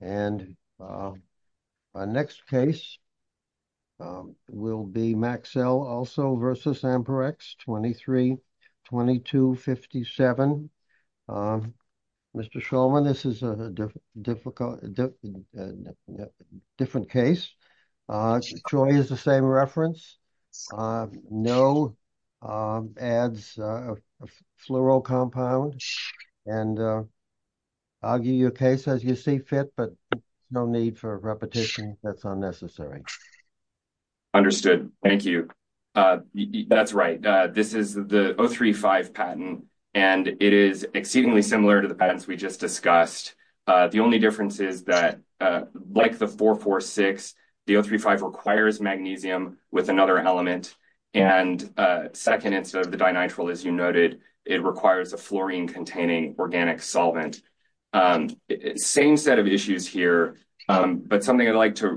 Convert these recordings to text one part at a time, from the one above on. and our next case will be Maxell also v. Amperex 23-2257. Mr. Shulman, this is a different case. Troy is the same reference. No adds a fluoro compound and I'll give you a case, as you see fit, but no need for repetition. That's unnecessary. Understood. Thank you. That's right. This is the O3-5 patent and it is exceedingly similar to the patents we just discussed. The only difference is that like the 4-4-6, the O3-5 requires magnesium with another element and second, instead of the dinitrile, as you noted, it requires a fluorine containing organic solvent. Same set of issues here, but something I'd like to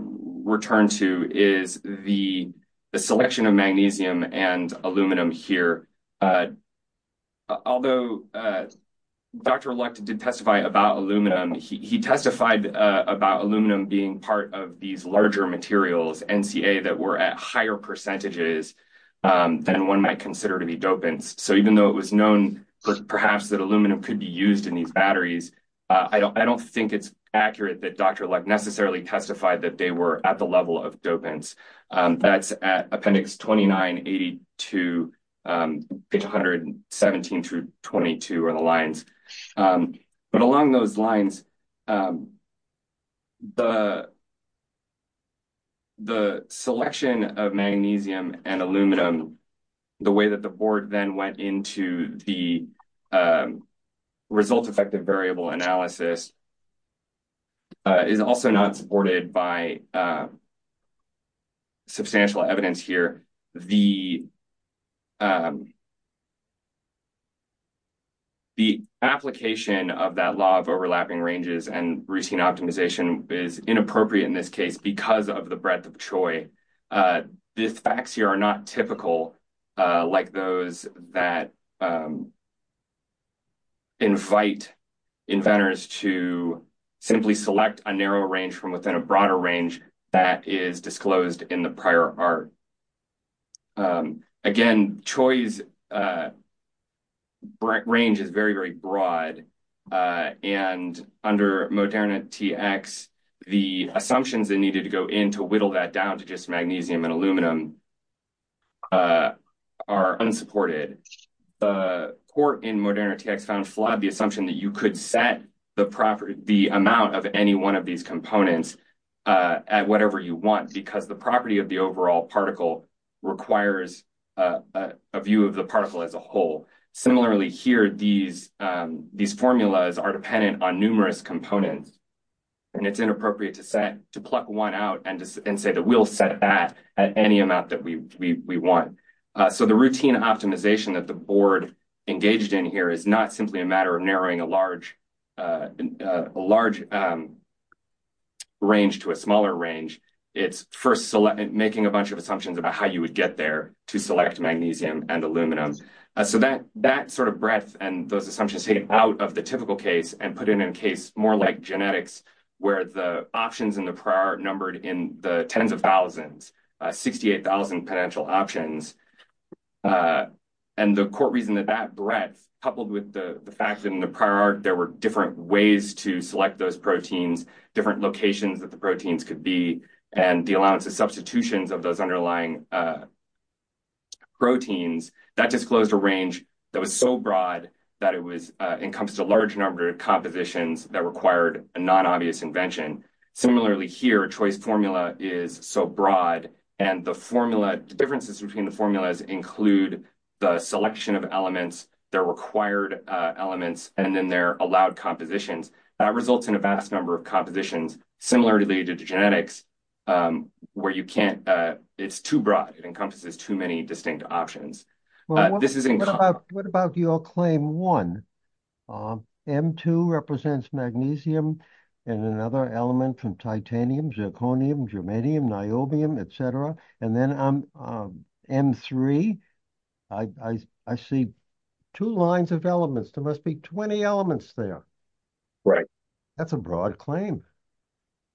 return to is the selection of magnesium and aluminum here. Although Dr. Luck did testify about aluminum, he testified about aluminum being part of these larger materials, NCA, that were at higher percentages than one might consider to be dopants. So even though it was known perhaps that aluminum could be used in these batteries, I don't think it's accurate that Dr. Luck necessarily testified that they were at the level of dopants. That's at Appendix 29-82, page 117-22 are the lines. But along those lines, the selection of magnesium and aluminum, the way that the board then went into the result-effective variable analysis is also not supported by substantial evidence here. The application of that law of overlapping ranges and routine optimization is inappropriate in this case, because it does not invite inventors to simply select a narrow range from within a broader range that is disclosed in the prior art. Again, Choi's range is very, very broad, and under Moderna TX, the assumptions that needed to go in to whittle that down to just magnesium and aluminum are unsupported. The court in Moderna TX found flawed the assumption that you could set the amount of any one of these components at whatever you want, because the property of the overall particle requires a view of the particle as a whole. Similarly here, these formulas are dependent on numerous components, and it's inappropriate to set, to pluck one out and say that we'll set that at any amount that we want. So the routine optimization that the board engaged in here is not simply a matter of narrowing a large range to a smaller range. It's first making a bunch of assumptions about how you would get there to select magnesium and aluminum. So that sort of breadth and those assumptions taken out of the typical case and put in a case more like genetics, where the options in the prior art numbered in the tens of thousands, 68,000 potential options. And the court reasoned that that breadth, coupled with the fact that in the prior art there were different ways to select those proteins, different locations that the proteins could be, and the allowance of substitutions of those underlying proteins, that disclosed a range that was so broad that it was encompassed a large number of compositions that required a non-obvious invention. Similarly here, choice formula is so broad, and the formula, the differences between the formulas include the selection of elements, their required elements, and then their allowed compositions. That results in a vast number of compositions, similarly to genetics, where you can't, it's too broad, it encompasses too many options. What about your claim one? M2 represents magnesium and another element from titanium, zirconium, germanium, niobium, etc. And then M3, I see two lines of elements, there must be 20 elements there. Right. That's a broad claim.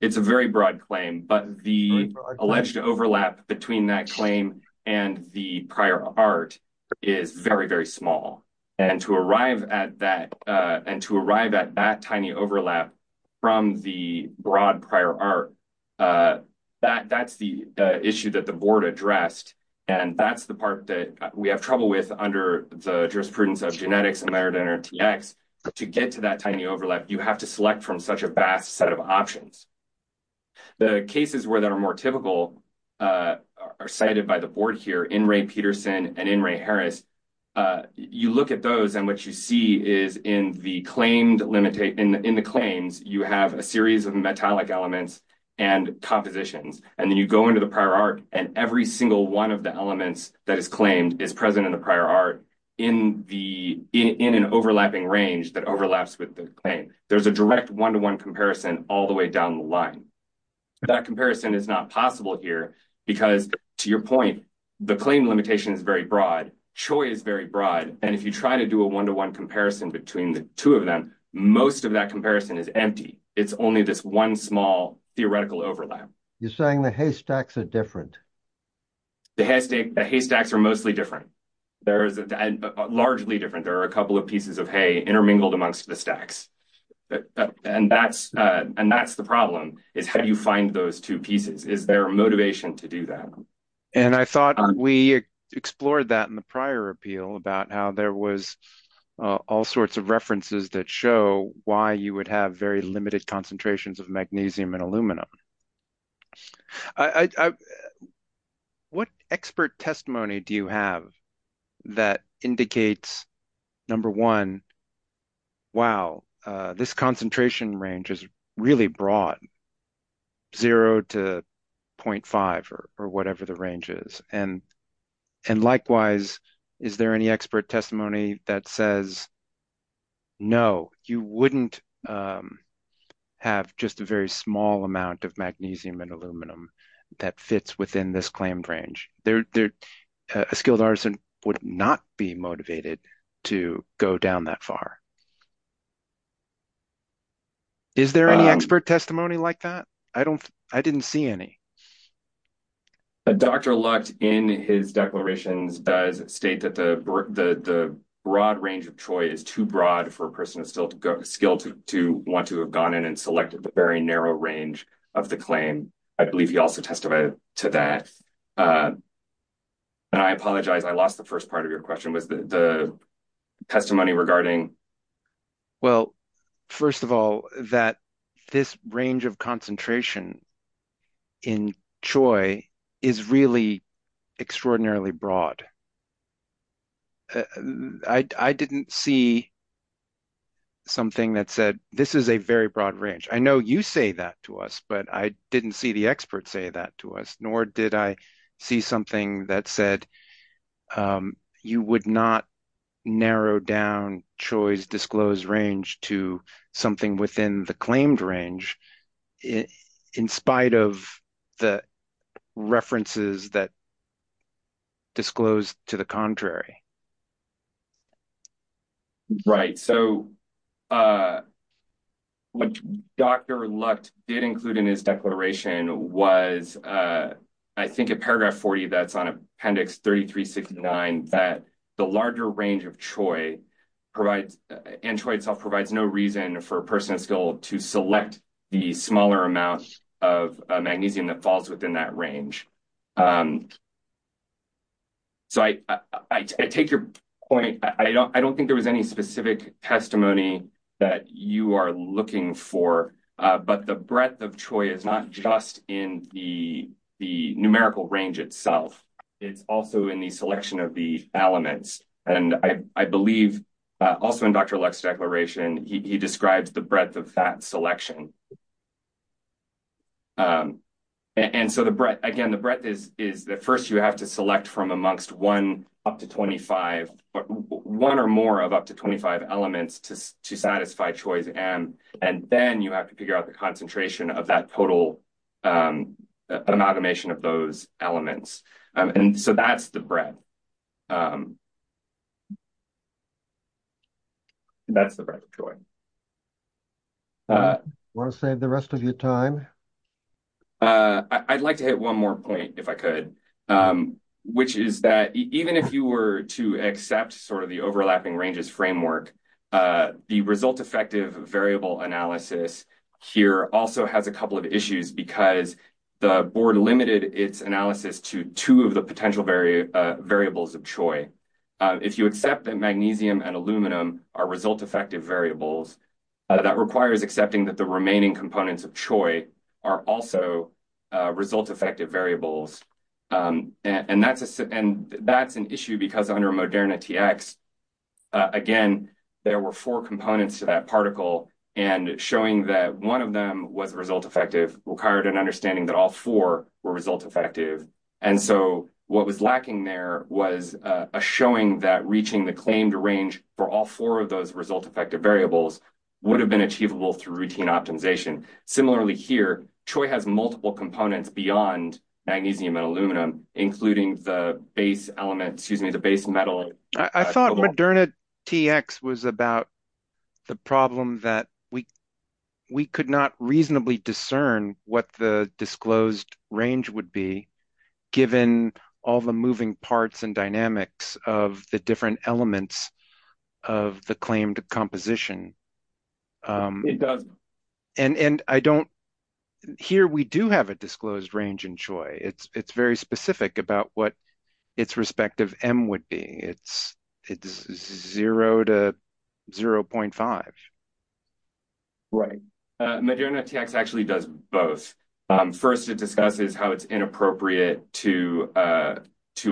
It's a very broad claim, but the alleged overlap between that claim and the prior art is very, very small. And to arrive at that, and to arrive at that tiny overlap from the broad prior art, that's the issue that the board addressed, and that's the part that we have trouble with under the jurisprudence of genetics and Merit NRTX. To get to that tiny overlap, you have to select from such a vast set of options. The cases where that are more typical are cited by the board here, in Ray Peterson and in Ray Harris. You look at those and what you see is in the claims, you have a series of metallic elements and compositions, and then you go into the prior art and every single one of the elements that is claimed is present in the prior art in an overlapping range that overlaps with the claim. There's a direct one-to-one comparison all the way down the line. That comparison is not possible here because, to your point, the claim limitation is very broad, choice is very broad, and if you try to do a one-to-one comparison between the two of them, most of that comparison is empty. It's only this one small theoretical overlap. You're saying the haystacks are different. The haystacks are mostly different. Largely different. There are a couple of pieces of hay intermingled amongst the stacks, and that's the problem. How do you find those two pieces? Is there motivation to do that? I thought we explored that in the prior appeal about how there was all sorts of references that show why you would have very limited concentrations of magnesium and aluminum. What expert testimony do you have that indicates, number one, wow, this concentration range is really broad, 0 to 0.5 or whatever the range is? And likewise, is there any expert testimony that says, no, you wouldn't have just a very small amount of magnesium and aluminum that fits within this claimed range. A skilled artisan would not be motivated to go down that far. Is there any expert testimony like that? I didn't see any. Dr. Lucht, in his declarations, does state that the broad range of choice is too broad for a person of skill to want to have gone in and selected the very narrow range of the claim. I believe he also testified to that. And I apologize, I lost the first part of your question. The range of concentration in Choi is really extraordinarily broad. I didn't see something that said, this is a very broad range. I know you say that to us, but I didn't see the expert say that to us, nor did I see something that said, you would not narrow down Choi's disclosed range to something within the claimed range in spite of the references that disclosed to the contrary. Right. So, what Dr. Lucht did include in his declaration was, I think, a paragraph 40 that's on Appendix 3369, that the larger range of Choi provides, and Choi itself provides no reason for a person of skill to select the smaller amount of magnesium that falls within that range. So, I take your point. I don't think there was any specific testimony that you are looking for, but the breadth of Choi is not just in the numerical range itself. It's also in the selection of the elements. And I believe, also in Dr. Lucht's declaration, he describes the breadth of that selection. And so, again, the breadth is that first you have to select from amongst one or more of up to 25 elements to satisfy Choi's M, and then you have to figure out the concentration of that total amalgamation of those elements. And so, that's the breadth. I want to save the rest of your time. I'd like to hit one more point, if I could, which is that even if you were to accept sort of the overlapping ranges framework, the result-effective variable analysis here also has a couple of issues, because the board limited its analysis to two of the potential variables that are available. And so, if you accept that magnesium and aluminum are result-effective variables, that requires accepting that the remaining components of Choi are also result-effective variables. And that's an issue, because under Moderna TX, again, there were four components to that particle, and showing that one of them was result-effective required an understanding that all four were result-effective. And so, what was lacking there was a showing that reaching the claimed range for all four of those result-effective variables would have been achievable through routine optimization. Similarly here, Choi has multiple components beyond magnesium and aluminum, including the base element, excuse me, the base metal. I thought Moderna TX was about the problem that we could not reasonably discern what the disclosed range would be, given all the moving parts and dynamics of the different elements of the claimed composition. It doesn't. And I don't, here we do have a disclosed range in Choi. It's very specific about what its respective M would be. It's 0 to 0.5. Right. Moderna TX actually does both. First, it discusses how it's inappropriate to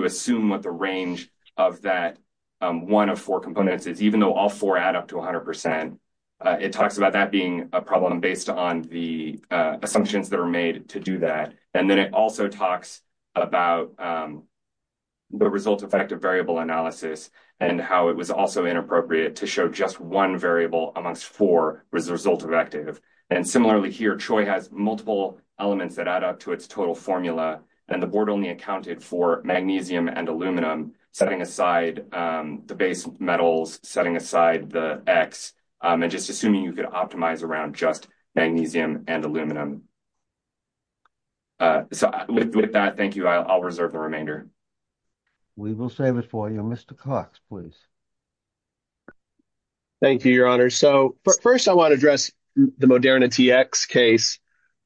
assume what the range of that one of four components is, even though all four add up to 100 percent. It talks about that being a problem based on the assumptions that are made to do that. And it also talks about the result-effective variable analysis and how it was also inappropriate to show just one variable amongst four result-effective. And similarly here, Choi has multiple elements that add up to its total formula, and the board only accounted for magnesium and aluminum, setting aside the base metals, setting aside the X, and just assuming you could optimize around magnesium and aluminum. So with that, thank you. I'll reserve the remainder. We will save it for you. Mr. Cox, please. Thank you, Your Honor. So first, I want to address the Moderna TX case.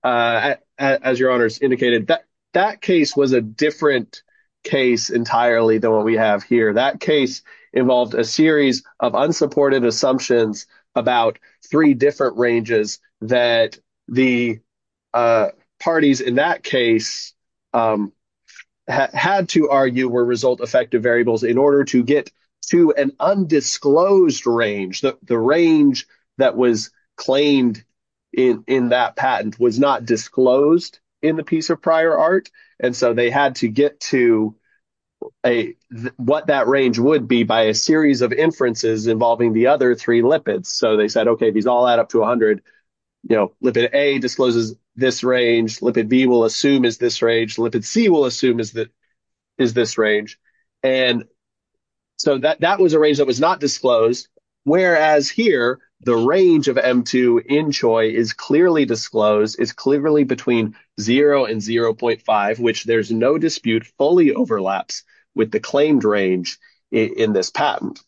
As Your Honor indicated, that case was a different case entirely than what we have here. That case involved a series of unsupported assumptions about three different ranges that the parties in that case had to argue were result-effective variables in order to get to an undisclosed range. The range that was claimed in that patent was not disclosed in the piece of prior art, and so they had to get to what that range would be by a series of inferences involving the other three lipids. So they said, okay, these all add up to 100. Lipid A discloses this range. Lipid B will assume is this range. Lipid C will assume is this range. And so that was a range that was not disclosed, whereas here, the range of M2 in Choi is clearly disclosed, is clearly between 0 and 0.5, which there's no dispute fully overlaps with the claimed range in this patent.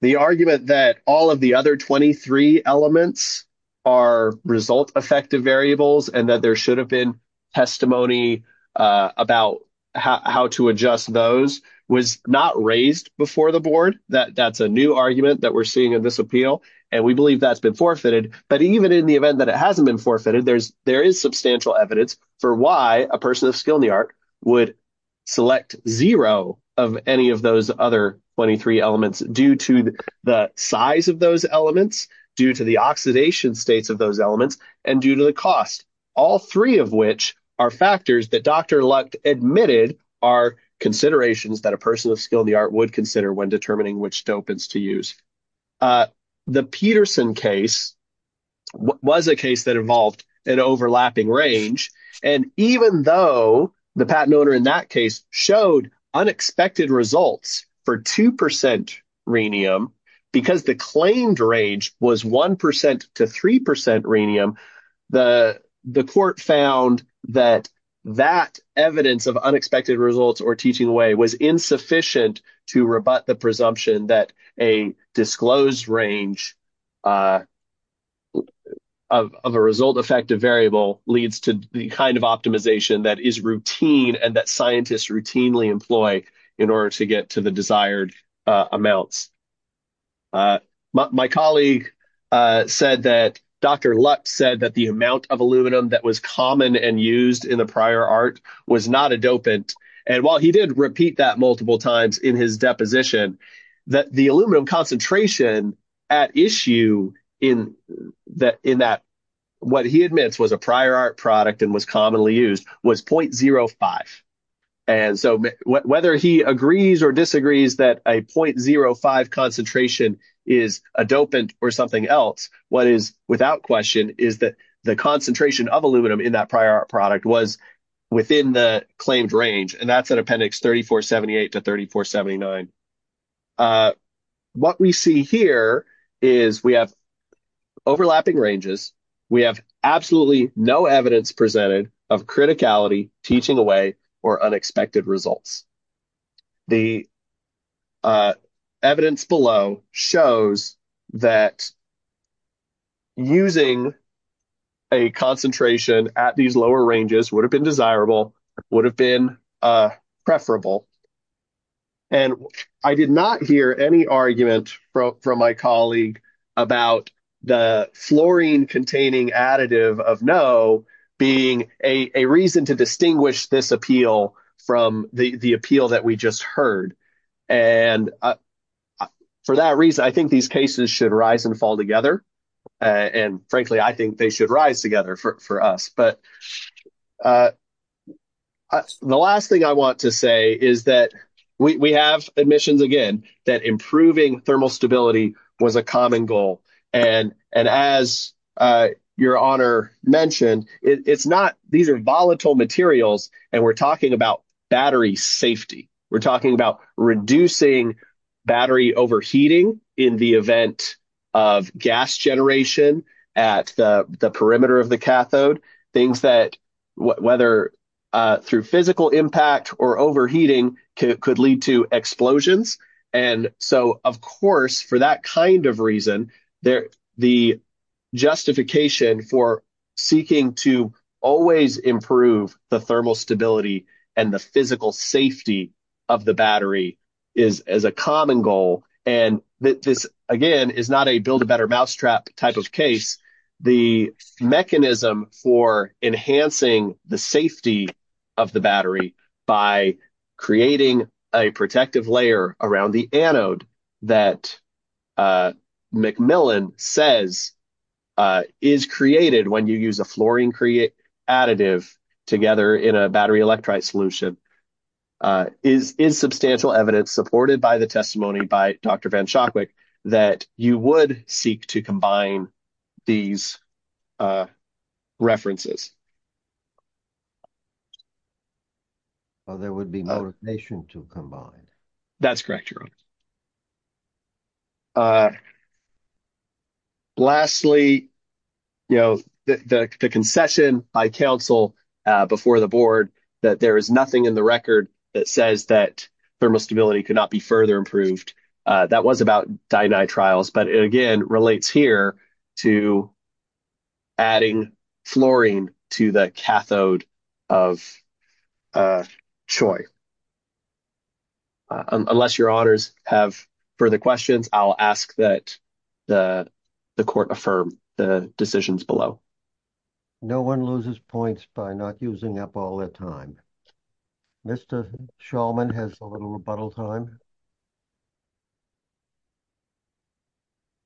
The argument that all of the other 23 elements are result-effective variables and that there should have been testimony about how to adjust those was not raised before the board. That's a new argument that we're seeing in this appeal, and we believe that's been forfeited. But even in the event that it hasn't been forfeited, there is substantial evidence for why a person of skill in the art would select zero of any of those other 23 elements due to the size of those elements, due to the oxidation states of those elements, and due to the cost, all three of which are factors that Dr. Lucht admitted are considerations that a person of skill in the art would consider when determining which dopants to use. The Peterson case was a case that involved an overlapping range, and even though the patent owner in that case showed unexpected results for 2% rhenium because the claimed range was 1% to 3% rhenium, the court found that that evidence of unexpected results or teaching away was insufficient to rebut the presumption that a disclosed range of a result-effective variable leads to the kind of optimization that is routine and that scientists routinely employ in order to get to the desired amounts. My colleague said that Dr. Lucht said that the amount of aluminum that was common and used in the prior art was not a dopant, and while he did repeat that multiple times in his deposition, that the aluminum concentration at issue in that what he admits was a prior art product and was commonly used was 0.05, and so whether he agrees or disagrees that a 0.05 concentration is a dopant or something else, what is without question is that the concentration of aluminum in that prior art was within the claimed range, and that's in appendix 3478 to 3479. What we see here is we have overlapping ranges. We have absolutely no evidence presented of criticality, teaching away, or unexpected results. The evidence below shows that using a concentration at these lower ranges would have been desirable, would have been preferable, and I did not hear any argument from my colleague about the fluorine-containing additive of no being a reason to distinguish this appeal from the appeal that we just heard, and for that reason, I think these cases should rise and fall together, and frankly, I think they should rise together for us, but the last thing I want to say is that we have admissions, again, that improving thermal stability was a common goal, and as your honor mentioned, it's not. These are volatile materials, and we're talking about battery safety. We're talking about reducing battery overheating in the event of gas generation at the perimeter of the cathode, things that, whether through physical impact or overheating, could lead to explosions, and so, of course, for that kind of reason, the justification for seeking to always improve the thermal stability and the physical this, again, is not a build a better mousetrap type of case. The mechanism for enhancing the safety of the battery by creating a protective layer around the anode that McMillan says is created when you use a fluorine additive together in a battery electrolyte solution is substantial evidence supported by the testimony by Dr. Van Shokwik that you would seek to combine these references. Well, there would be more patient to combine. That's correct, your honor. Lastly, you know, the concession by counsel before the board that there is nothing in the record that says that thermal stability could not be further improved. That was about dinitriles, but it, again, relates here to adding fluorine to the cathode of CHOI. Okay. Unless your honors have further questions, I'll ask that the court affirm the decisions below. No one loses points by not using up all their time. Mr. Shulman has a little rebuttal time.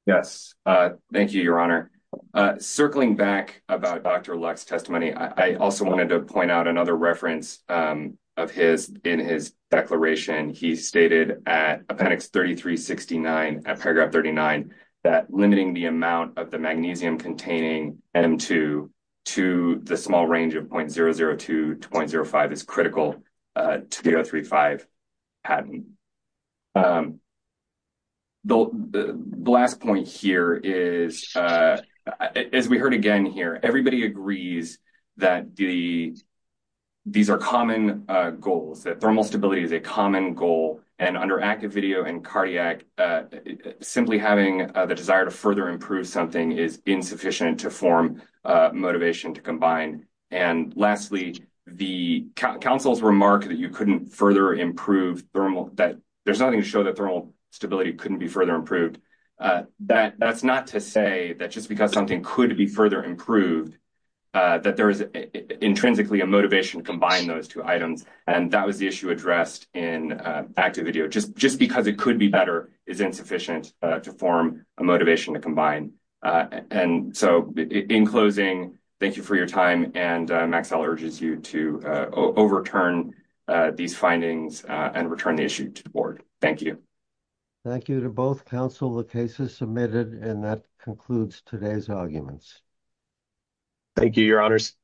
Yes, thank you, your honor. Circling back about Dr. Luck's testimony, I also wanted to point out another reference of his in his declaration. He stated at appendix 3369, at paragraph 39, that limiting the amount of the magnesium containing M2 to the small range of 0.002 to 0.05 is critical to the 035 patent. The last point here is, as we heard again here, everybody agrees that these are common goals, that thermal stability is a common goal, and under active video and cardiac, simply having the desire to further improve something is insufficient to form motivation to combine. And lastly, the counsel's remark that you couldn't further improve thermal, that there's nothing to show that thermal stability couldn't be further improved, that's not to say that just because something could be further improved, that there is intrinsically a motivation to combine those two items, and that was the issue addressed in active video. Just because it could be better is insufficient to form a motivation to combine. And so, in closing, thank you for your time, and Maxell urges you to overturn these findings and return the issue to the board. Thank you. Thank you to both counsel. The case is submitted, and that concludes today's arguments. Thank you, your honors.